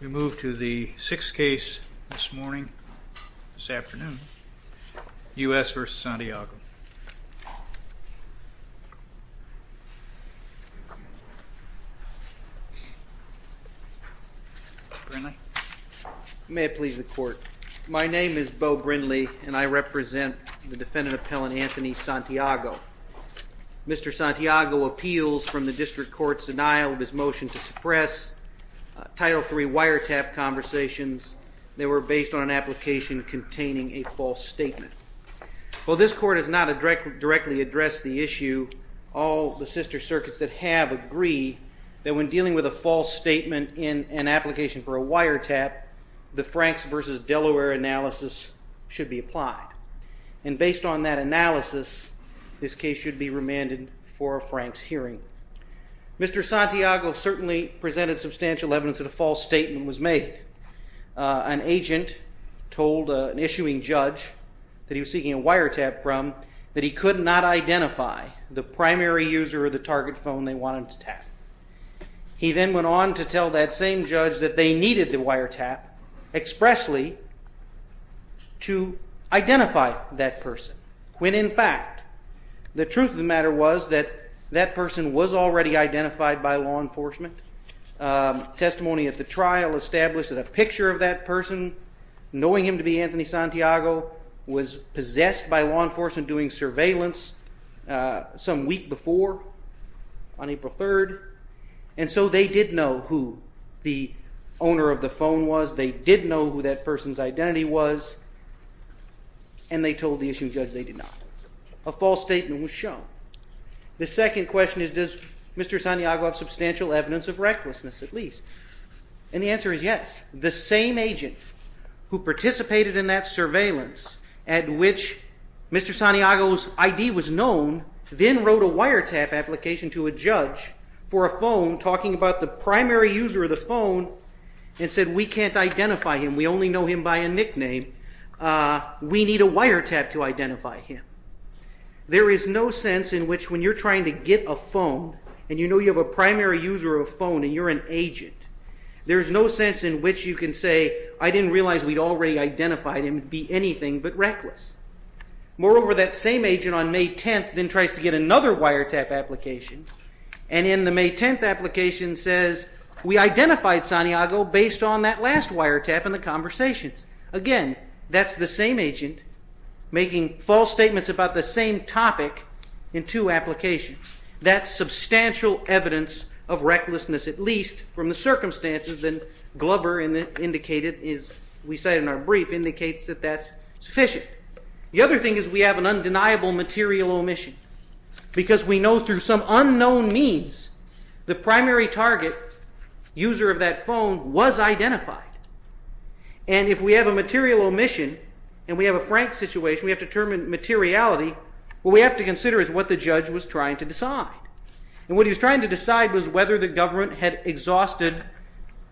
We move to the sixth case this morning, this afternoon, U.S. v. Santiago. Mr. Brindley? May it please the Court, my name is Beau Brindley and I represent the defendant appellant Anthony Santiago. Mr. Santiago appeals from the District Court's denial of his motion to suppress Title III wiretap conversations that were based on an application containing a false statement. While this Court has not directly addressed the issue, all the sister circuits that have agree that when dealing with a false statement in an application for a wiretap, the Franks v. Delaware analysis should be applied. And based on that analysis, this case should be remanded for a Franks hearing. Mr. Santiago certainly presented substantial evidence that a false statement was made. An agent told an issuing judge that he was seeking a wiretap from, that he could not identify the primary user of the target phone they wanted to tap. He then went on to tell that same judge that they needed the wiretap expressly to identify that person, when in fact the truth of the matter was that that person was already identified by law enforcement. Testimony at the trial established that a picture of that person, knowing him to be Anthony Santiago, was possessed by law enforcement doing surveillance some week before, on April 3rd. And so they did know who the owner of the phone was, they did know who that person's identity was, and they told the issuing judge they did not. A false statement was shown. The second question is, does Mr. Santiago have substantial evidence of recklessness, at least? And the answer is yes. The same agent who participated in that surveillance, at which Mr. Santiago's ID was known, then wrote a wiretap application to a judge for a phone, talking about the primary user of the phone, and said we can't identify him, we only know him by a nickname, we need a wiretap to identify him. There is no sense in which when you're trying to get a phone, and you know you have a primary user of a phone and you're an agent, there's no sense in which you can say, I didn't realize we'd already identified him, be anything but reckless. Moreover, that same agent on May 10th then tries to get another wiretap application, and in the May 10th application says, we identified Santiago based on that last wiretap in the conversations. Again, that's the same agent making false statements about the same topic in two applications. That's substantial evidence of recklessness, at least from the circumstances that Glover indicated, as we said in our brief, indicates that that's sufficient. The other thing is we have an undeniable material omission, because we know through some unknown means the primary target, user of that phone, was identified. And if we have a material omission, and we have a frank situation, we have to determine materiality, what we have to consider is what the judge was trying to decide. And what he was trying to decide was whether the government had exhausted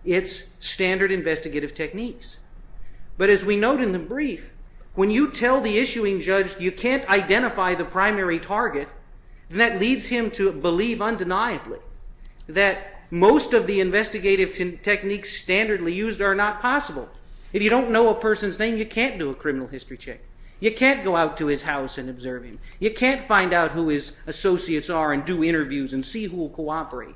its standard investigative techniques. But as we note in the brief, when you tell the issuing judge you can't identify the primary target, that leads him to believe undeniably that most of the investigative techniques standardly used are not possible. If you don't know a person's name, you can't do a criminal history check. You can't go out to his house and observe him. You can't find out who his associates are and do interviews and see who will cooperate.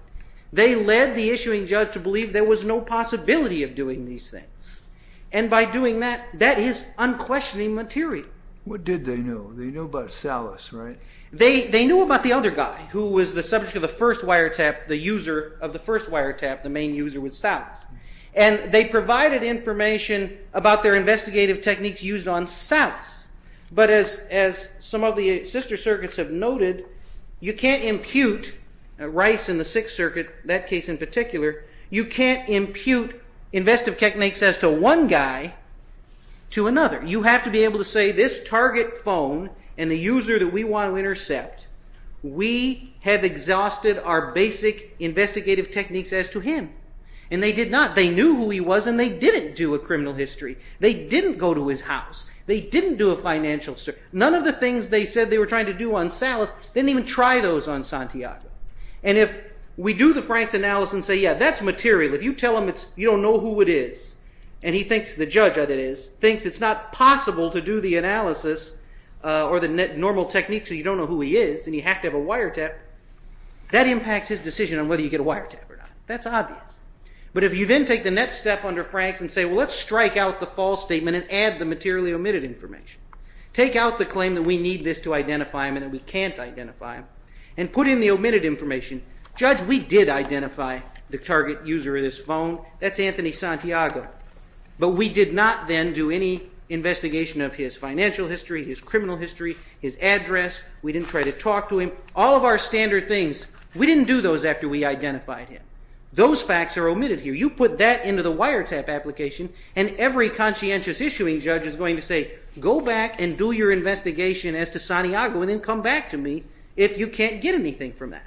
They led the issuing judge to believe there was no possibility of doing these things. And by doing that, that is unquestioning material. What did they know? They knew about Salas, right? They knew about the other guy, who was the subject of the first wiretap, the user of the first wiretap, the main user with Salas. And they provided information about their investigative techniques used on Salas. But as some of the sister circuits have noted, you can't impute, Rice in the Sixth Circuit, that case in particular, you can't impute investigative techniques as to one guy to another. You have to be able to say this target phone and the user that we want to intercept, we have exhausted our basic investigative techniques as to him. And they did not. They knew who he was and they didn't do a criminal history. They didn't go to his house. They didn't do a financial circuit. None of the things they said they were trying to do on Salas, they didn't even try those on Santiago. And if we do the Franks analysis and say, yeah, that's material. If you tell him you don't know who it is, and he thinks, the judge that it is, thinks it's not possible to do the analysis or the normal technique, so you don't know who he is and you have to have a wiretap, that impacts his decision on whether you get a wiretap or not. That's obvious. But if you then take the next step under Franks and say, well, let's strike out the false statement and add the materially omitted information. Take out the claim that we need this to identify him and that we can't identify him and put in the omitted information. Judge, we did identify the target user of this phone. That's Anthony Santiago. But we did not then do any investigation of his financial history, his criminal history, his address. We didn't try to talk to him. All of our standard things, we didn't do those after we identified him. Those facts are omitted here. You put that into the wiretap application and every conscientious issuing judge is going to say, go back and do your investigation as to Santiago and then come back to me if you can't get anything from that.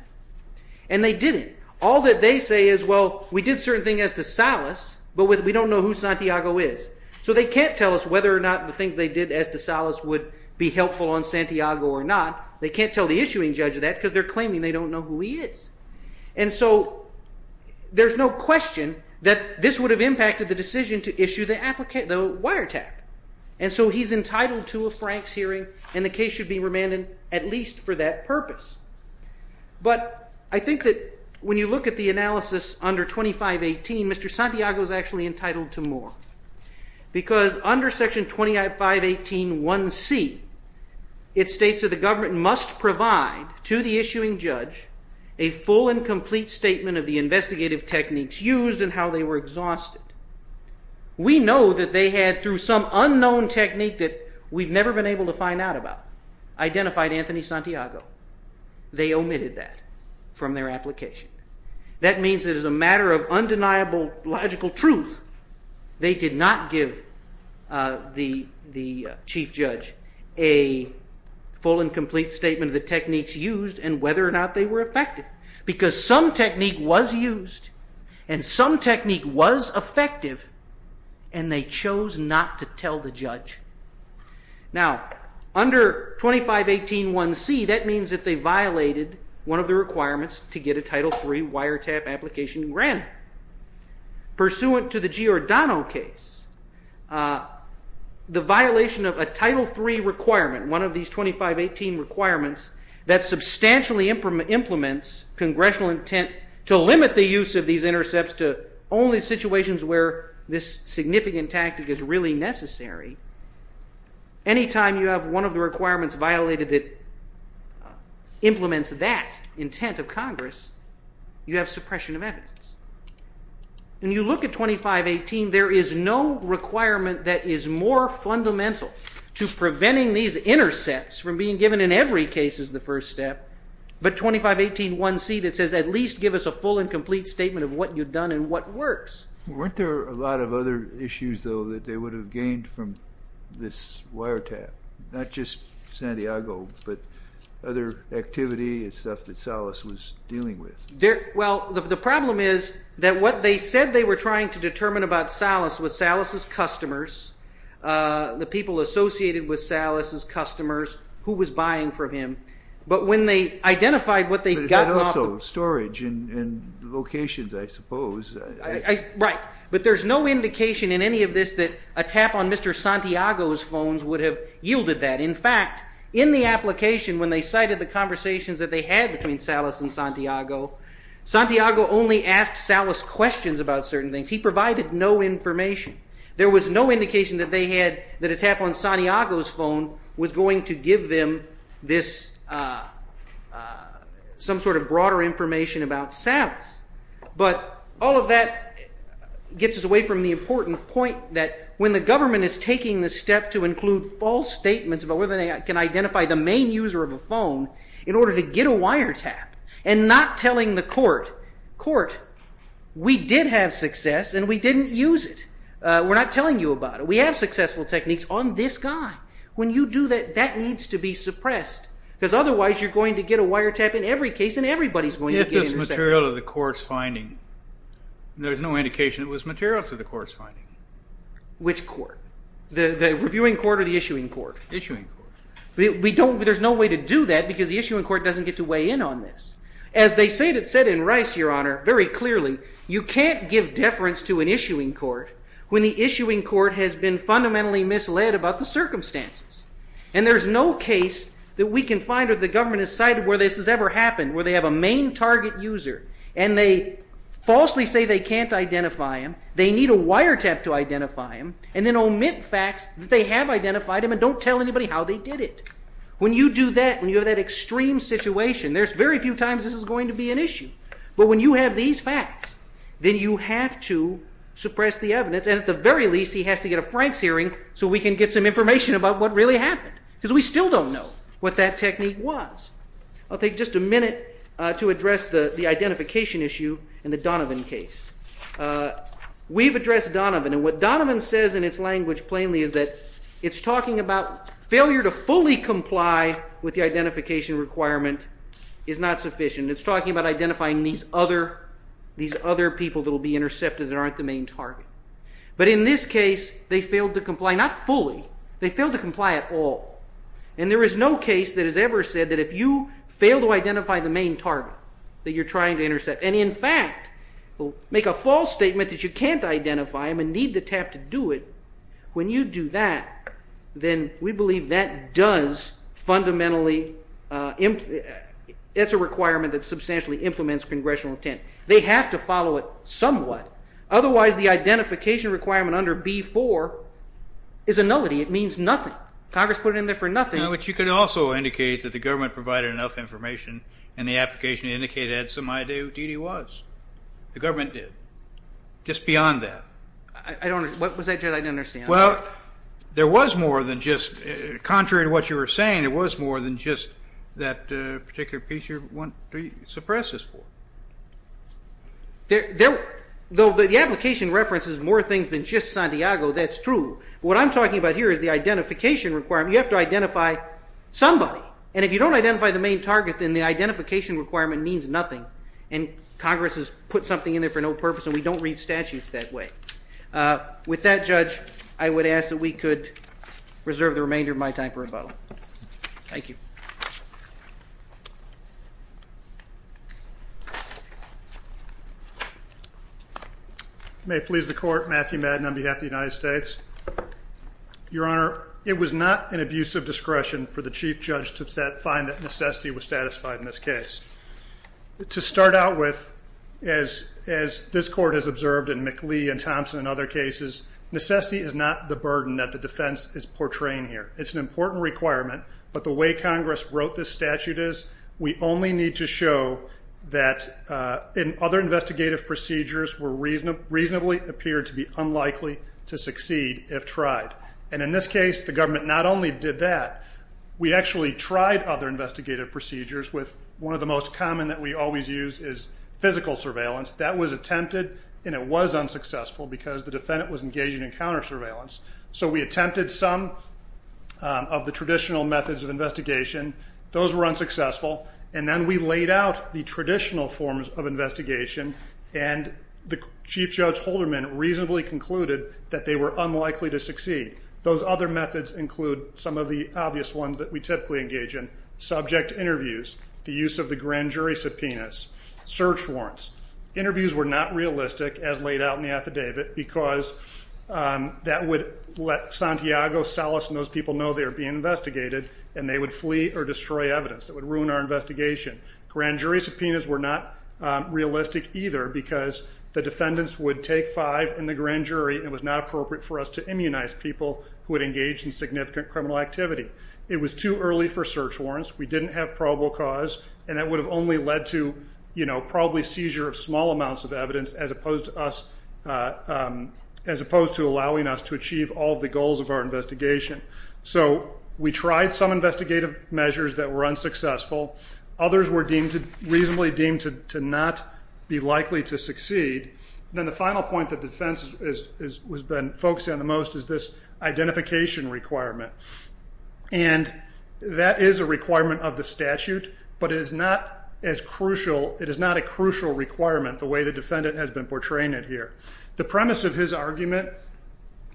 And they didn't. All that they say is, well, we did certain things as to Salas, but we don't know who Santiago is. So they can't tell us whether or not the things they did as to Salas would be helpful on Santiago or not. They can't tell the issuing judge that because they're claiming they don't know who he is. And so there's no question that this would have impacted the decision to issue the wiretap. And so he's entitled to a Franks hearing and the case should be remanded at least for that purpose. But I think that when you look at the analysis under 2518, Mr. Santiago is actually entitled to more. Because under Section 2518.1c, it states that the government must provide to the issuing judge a full and complete statement of the investigative techniques used and how they were exhausted. We know that they had, through some unknown technique that we've never been able to find out about, identified Anthony Santiago. They omitted that from their application. That means that as a matter of undeniable logical truth, they did not give the chief judge a full and complete statement of the techniques used and whether or not they were effective. Because some technique was used and some technique was effective and they chose not to tell the judge. Now, under 2518.1c, that means that they violated one of the requirements to get a Title III wiretap application granted. Pursuant to the Giordano case, the violation of a Title III requirement, one of these 2518 requirements, that substantially implements congressional intent to limit the use of these intercepts to only situations where this significant tactic is really necessary. Anytime you have one of the requirements violated that implements that intent of Congress, you have suppression of evidence. When you look at 2518, there is no requirement that is more fundamental to preventing these intercepts from being given in every case as the first step, but 2518.1c that says at least give us a full and complete statement of what you've done and what works. Weren't there a lot of other issues, though, that they would have gained from this wiretap? Not just Santiago, but other activity and stuff that Salas was dealing with. Well, the problem is that what they said they were trying to determine about Salas was Salas' customers, the people associated with Salas' customers, who was buying from him. But when they identified what they'd gotten off of them. But also storage and locations, I suppose. Right. But there's no indication in any of this that a tap on Mr. Santiago's phones would have yielded that. In fact, in the application when they cited the conversations that they had between Salas and Santiago, Santiago only asked Salas questions about certain things. He provided no information. There was no indication that a tap on Santiago's phone was going to give them some sort of broader information about Salas. But all of that gets us away from the important point that when the government is taking the step to include false statements about whether they can identify the main user of a phone in order to get a wiretap, and not telling the court, court, we did have success and we didn't use it. We're not telling you about it. We have successful techniques on this guy. When you do that, that needs to be suppressed. Because otherwise you're going to get a wiretap in every case and everybody's going to get intercepted. It was material to the court's finding. There's no indication it was material to the court's finding. Which court? The reviewing court or the issuing court? Issuing court. There's no way to do that because the issuing court doesn't get to weigh in on this. As they said in Rice, Your Honor, very clearly, you can't give deference to an issuing court when the issuing court has been fundamentally misled about the circumstances. And there's no case that we can find where the government has cited where this has ever happened, where they have a main target user and they falsely say they can't identify him, they need a wiretap to identify him, and then omit facts that they have identified him and don't tell anybody how they did it. When you do that, when you have that extreme situation, there's very few times this is going to be an issue. But when you have these facts, then you have to suppress the evidence. And at the very least, he has to get a Franks hearing so we can get some information about what really happened. Because we still don't know what that technique was. I'll take just a minute to address the identification issue in the Donovan case. We've addressed Donovan. And what Donovan says in its language plainly is that it's talking about failure to fully comply with the identification requirement is not sufficient. It's talking about identifying these other people that will be intercepted that aren't the main target. But in this case, they failed to comply. Not fully. They failed to comply at all. And there is no case that has ever said that if you fail to identify the main target that you're trying to intercept, and in fact make a false statement that you can't identify him and need the tap to do it, when you do that, then we believe that does fundamentally, it's a requirement that substantially implements congressional intent. They have to follow it somewhat. Otherwise, the identification requirement under B-4 is a nullity. It means nothing. Congress put it in there for nothing. But you could also indicate that the government provided enough information and the application indicated it had some idea who Dede was. The government did. Just beyond that. I don't understand. I don't understand. Well, there was more than just, contrary to what you were saying, there was more than just that particular piece you want to suppress this for. Though the application references more things than just Santiago, that's true. But what I'm talking about here is the identification requirement. You have to identify somebody. And if you don't identify the main target, then the identification requirement means nothing. And Congress has put something in there for no purpose, and we don't read statutes that way. With that, Judge, I would ask that we could reserve the remainder of my time for rebuttal. Thank you. May it please the Court. Matthew Madden on behalf of the United States. Your Honor, it was not an abuse of discretion for the Chief Judge to find that necessity was satisfied in this case. To start out with, as this Court has observed in McLee and Thompson and other cases, necessity is not the burden that the defense is portraying here. It's an important requirement. But the way Congress wrote this statute is we only need to show that other investigative procedures reasonably appear to be unlikely to succeed if tried. And in this case, the government not only did that, we actually tried other investigative procedures with one of the most common that we always use is physical surveillance. That was attempted, and it was unsuccessful because the defendant was engaging in counter-surveillance. So we attempted some of the traditional methods of investigation. Those were unsuccessful. And then we laid out the traditional forms of investigation, and the Chief Judge Holderman reasonably concluded that they were unlikely to succeed. Those other methods include some of the obvious ones that we typically engage in, subject interviews, the use of the grand jury subpoenas, search warrants. Interviews were not realistic as laid out in the affidavit because that would let Santiago, Salas, and those people know they are being investigated, and they would flee or destroy evidence. It would ruin our investigation. Grand jury subpoenas were not realistic either because the defendants would take five in the grand jury, and it was not appropriate for us to immunize people who had engaged in significant criminal activity. It was too early for search warrants. We didn't have probable cause, and that would have only led to probably seizure of small amounts of evidence as opposed to allowing us to achieve all of the goals of our investigation. So we tried some investigative measures that were unsuccessful. Others were reasonably deemed to not be likely to succeed. Then the final point that the defense has been focusing on the most is this identification requirement. And that is a requirement of the statute, but it is not as crucial. It is not a crucial requirement the way the defendant has been portraying it here. The premise of his argument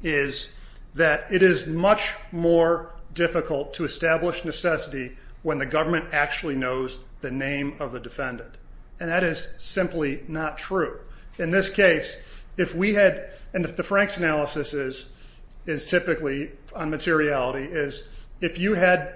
is that it is much more difficult to establish necessity when the government actually knows the name of the defendant, and that is simply not true. In this case, if we had, and if the Frank's analysis is typically on materiality, is if you had,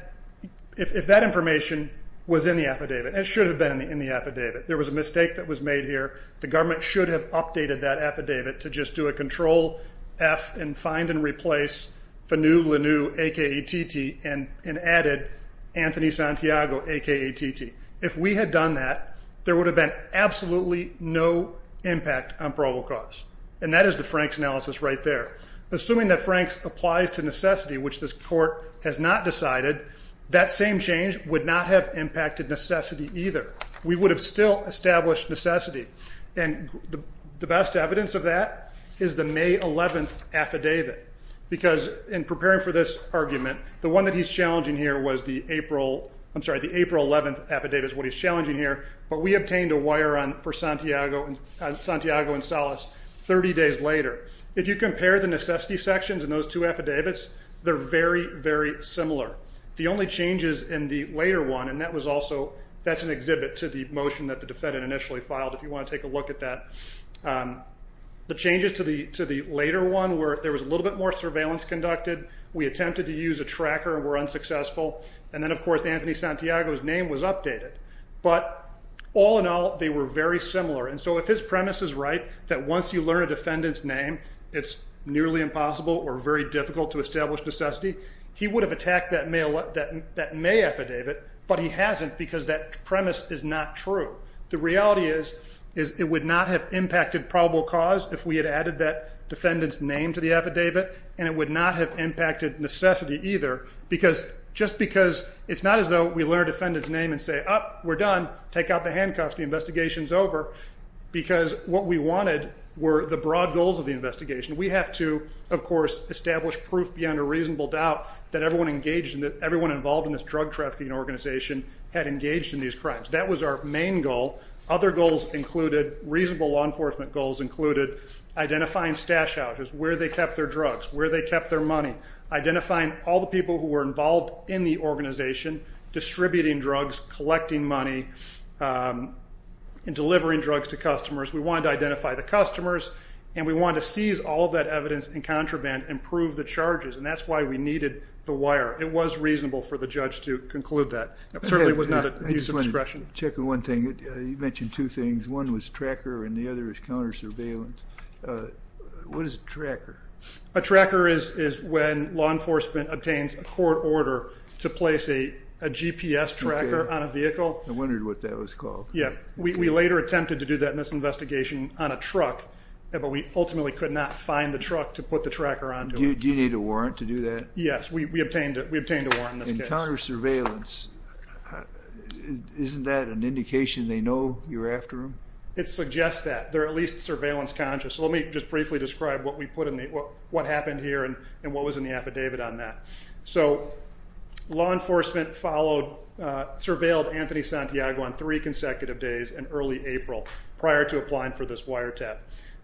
if that information was in the affidavit, and it should have been in the affidavit, there was a mistake that was made here, the government should have updated that affidavit to just do a control F and find and replace Fanu Lanu, a.k.a. Titi, and added Anthony Santiago, a.k.a. Titi. If we had done that, there would have been absolutely no impact on probable cause. And that is the Frank's analysis right there. Assuming that Frank's applies to necessity, which this court has not decided, that same change would not have impacted necessity either. We would have still established necessity. And the best evidence of that is the May 11th affidavit, because in preparing for this argument, the one that he's challenging here was the April, I'm sorry, the April 11th affidavit is what he's challenging here, but we obtained a wire run for Santiago and Salas 30 days later. If you compare the necessity sections in those two affidavits, they're very, very similar. The only changes in the later one, and that was also, that's an exhibit to the motion that the defendant initially filed, if you want to take a look at that. The changes to the later one were there was a little bit more surveillance conducted. We attempted to use a tracker and were unsuccessful. And then, of course, Anthony Santiago's name was updated. But all in all, they were very similar. And so if his premise is right, that once you learn a defendant's name, it's nearly impossible or very difficult to establish necessity, he would have attacked that May affidavit, but he hasn't because that premise is not true. The reality is it would not have impacted probable cause if we had added that defendant's name to the affidavit, and it would not have impacted necessity either because just because it's not as though we learn a defendant's name and say, oh, we're done, take out the handcuffs, the investigation's over, because what we wanted were the broad goals of the investigation. We have to, of course, establish proof beyond a reasonable doubt that everyone involved in this drug trafficking organization had engaged in these crimes. That was our main goal. Other goals included, reasonable law enforcement goals included identifying stash houses, where they kept their drugs, where they kept their money, identifying all the people who were involved in the organization, distributing drugs, collecting money, and delivering drugs to customers. We wanted to identify the customers, and we wanted to seize all of that evidence and contraband and prove the charges, and that's why we needed the wire. It was reasonable for the judge to conclude that. It certainly was not abuse of discretion. I'm checking one thing. You mentioned two things. One was tracker and the other is counter surveillance. What is a tracker? A tracker is when law enforcement obtains a court order to place a GPS tracker on a vehicle. I wondered what that was called. Yeah. We later attempted to do that in this investigation on a truck, but we ultimately could not find the truck to put the tracker onto. Do you need a warrant to do that? Yes. We obtained a warrant in this case. Counter surveillance, isn't that an indication they know you're after them? It suggests that. They're at least surveillance conscious. Let me just briefly describe what happened here and what was in the affidavit on that. So law enforcement followed, surveilled Anthony Santiago on three consecutive days in early April prior to applying for this wiretap.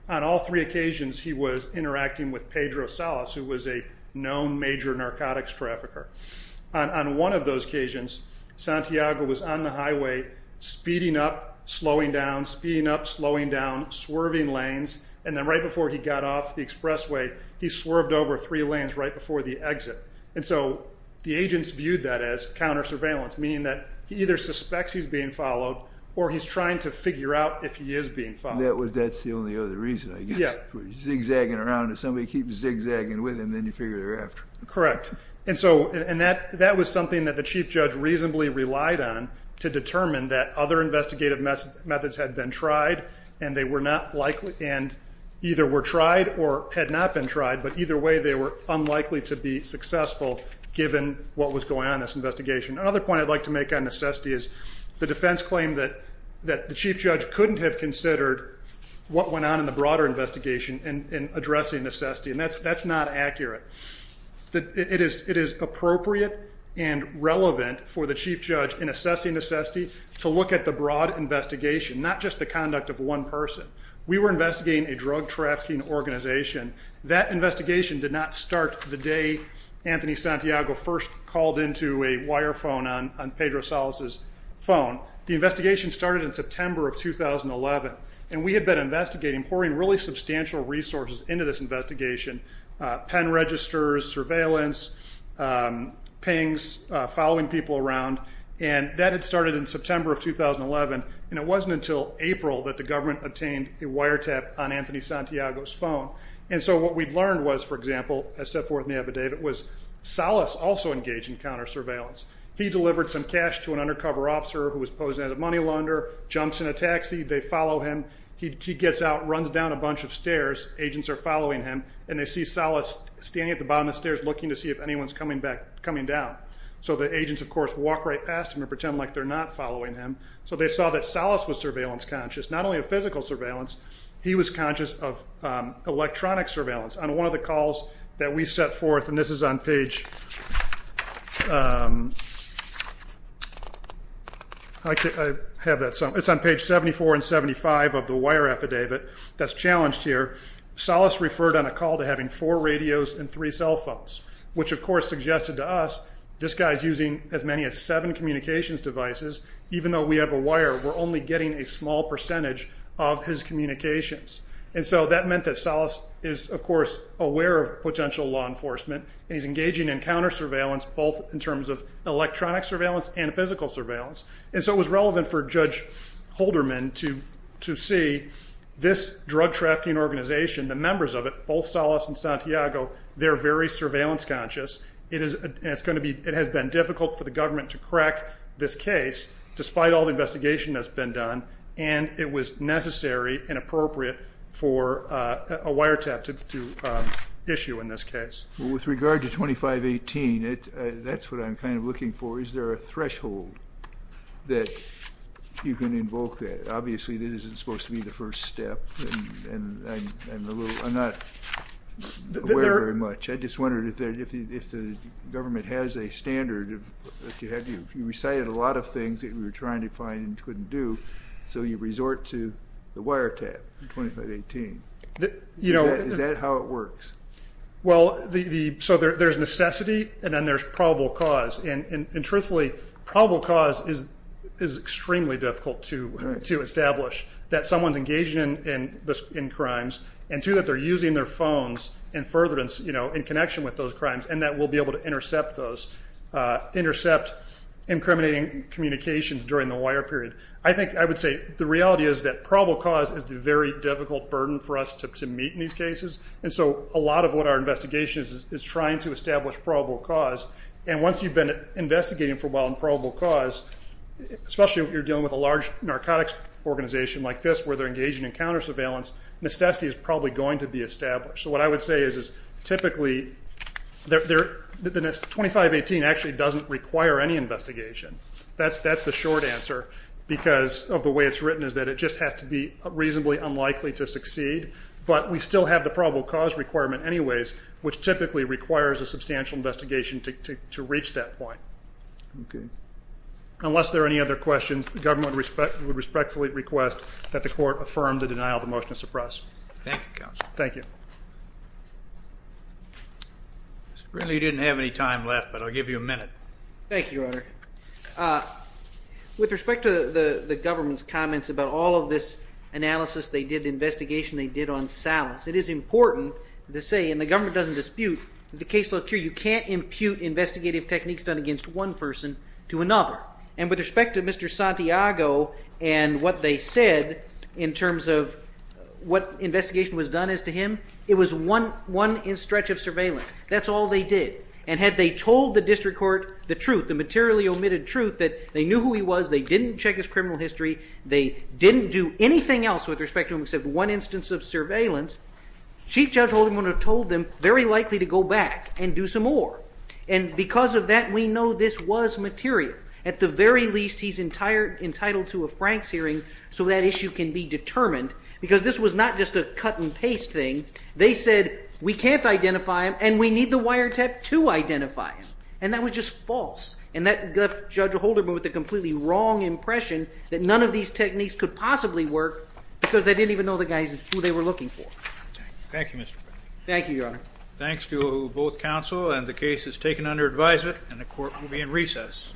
On all three occasions, he was interacting with Pedro Salas, who was a known major narcotics trafficker. On one of those occasions, Santiago was on the highway speeding up, slowing down, speeding up, slowing down, swerving lanes, and then right before he got off the expressway, he swerved over three lanes right before the exit. And so the agents viewed that as counter surveillance, meaning that he either suspects he's being followed or he's trying to figure out if he is being followed. That's the only other reason, I guess. Yeah. Zigzagging around. If somebody keeps zigzagging with him, then you figure they're after him. Correct. And so that was something that the chief judge reasonably relied on to determine that other investigative methods had been tried and they were not likely and either were tried or had not been tried, but either way they were unlikely to be successful given what was going on in this investigation. Another point I'd like to make on necessity is the defense claimed that the chief judge couldn't have considered what went on in the broader investigation in addressing necessity, and that's not accurate. It is appropriate and relevant for the chief judge in assessing necessity to look at the broad investigation, not just the conduct of one person. We were investigating a drug trafficking organization. That investigation did not start the day Anthony Santiago first called into a wire phone on Pedro Salas's phone. The investigation started in September of 2011, and we had been investigating, pouring really substantial resources into this investigation, pen registers, surveillance, pings, following people around, and that had started in September of 2011, and it wasn't until April that the government obtained a wiretap on Anthony Santiago's phone. And so what we'd learned was, for example, as set forth in the affidavit, was Salas also engaged in counter surveillance. He delivered some cash to an undercover officer who was posing as a money lender, jumps in a taxi, they follow him. He gets out, runs down a bunch of stairs. Agents are following him, and they see Salas standing at the bottom of the stairs looking to see if anyone's coming down. So the agents, of course, walk right past him and pretend like they're not following him. So they saw that Salas was surveillance conscious, not only of physical surveillance. He was conscious of electronic surveillance. On one of the calls that we set forth, and this is on page 74 and 75 of the wire affidavit that's challenged here, Salas referred on a call to having four radios and three cell phones, which, of course, suggested to us this guy's using as many as seven communications devices. Even though we have a wire, we're only getting a small percentage of his communications. And so that meant that Salas is, of course, aware of potential law enforcement, and he's engaging in counter surveillance both in terms of electronic surveillance and physical surveillance. And so it was relevant for Judge Holderman to see this drug-trafficking organization, the members of it, both Salas and Santiago, they're very surveillance conscious. It has been difficult for the government to crack this case, despite all the investigation that's been done, and it was necessary and appropriate for a wiretap to issue in this case. With regard to 2518, that's what I'm kind of looking for. Is there a threshold that you can invoke there? Obviously, that isn't supposed to be the first step, and I'm not aware very much. I just wondered if the government has a standard. You recited a lot of things that we were trying to find and couldn't do, so you resort to the wiretap in 2518. Is that how it works? Well, so there's necessity, and then there's probable cause. And truthfully, probable cause is extremely difficult to establish, that someone's engaging in crimes, and two, that they're using their phones and furtherance in connection with those crimes, and that we'll be able to intercept those, intercept incriminating communications during the wire period. I think I would say the reality is that probable cause is the very difficult burden for us to meet in these cases, and so a lot of what our investigation is is trying to establish probable cause. And once you've been investigating for a while in probable cause, especially if you're dealing with a large narcotics organization like this where they're engaging in counter-surveillance, necessity is probably going to be established. So what I would say is typically 2518 actually doesn't require any investigation. That's the short answer because of the way it's written is that it just has to be reasonably unlikely to succeed, but we still have the probable cause requirement anyways, which typically requires a substantial investigation to reach that point. Okay. Unless there are any other questions, the government would respectfully request that the court affirm the denial of the motion to suppress. Thank you, Counsel. Thank you. Apparently you didn't have any time left, but I'll give you a minute. Thank you, Your Honor. With respect to the government's comments about all of this analysis they did, the investigation they did on Salas, it is important to say, and the government doesn't dispute, in the case of Lovecure you can't impute investigative techniques done against one person to another. And with respect to Mr. Santiago and what they said in terms of what investigation was done as to him, it was one stretch of surveillance. That's all they did. And had they told the district court the truth, the materially omitted truth that they knew who he was, they didn't check his criminal history, they didn't do anything else with respect to him except one instance of surveillance, Chief Judge Holderman would have told them very likely to go back and do some more. And because of that we know this was material. At the very least he's entitled to a Franks hearing so that issue can be determined. Because this was not just a cut and paste thing. They said we can't identify him and we need the wiretap to identify him. And that was just false. And that left Judge Holderman with the completely wrong impression that none of these techniques could possibly work because they didn't even know the guy is who they were looking for. Thank you, Mr. Frederick. Thank you, Your Honor. Thanks to both counsel and the case is taken under advisement and the court will be in recess.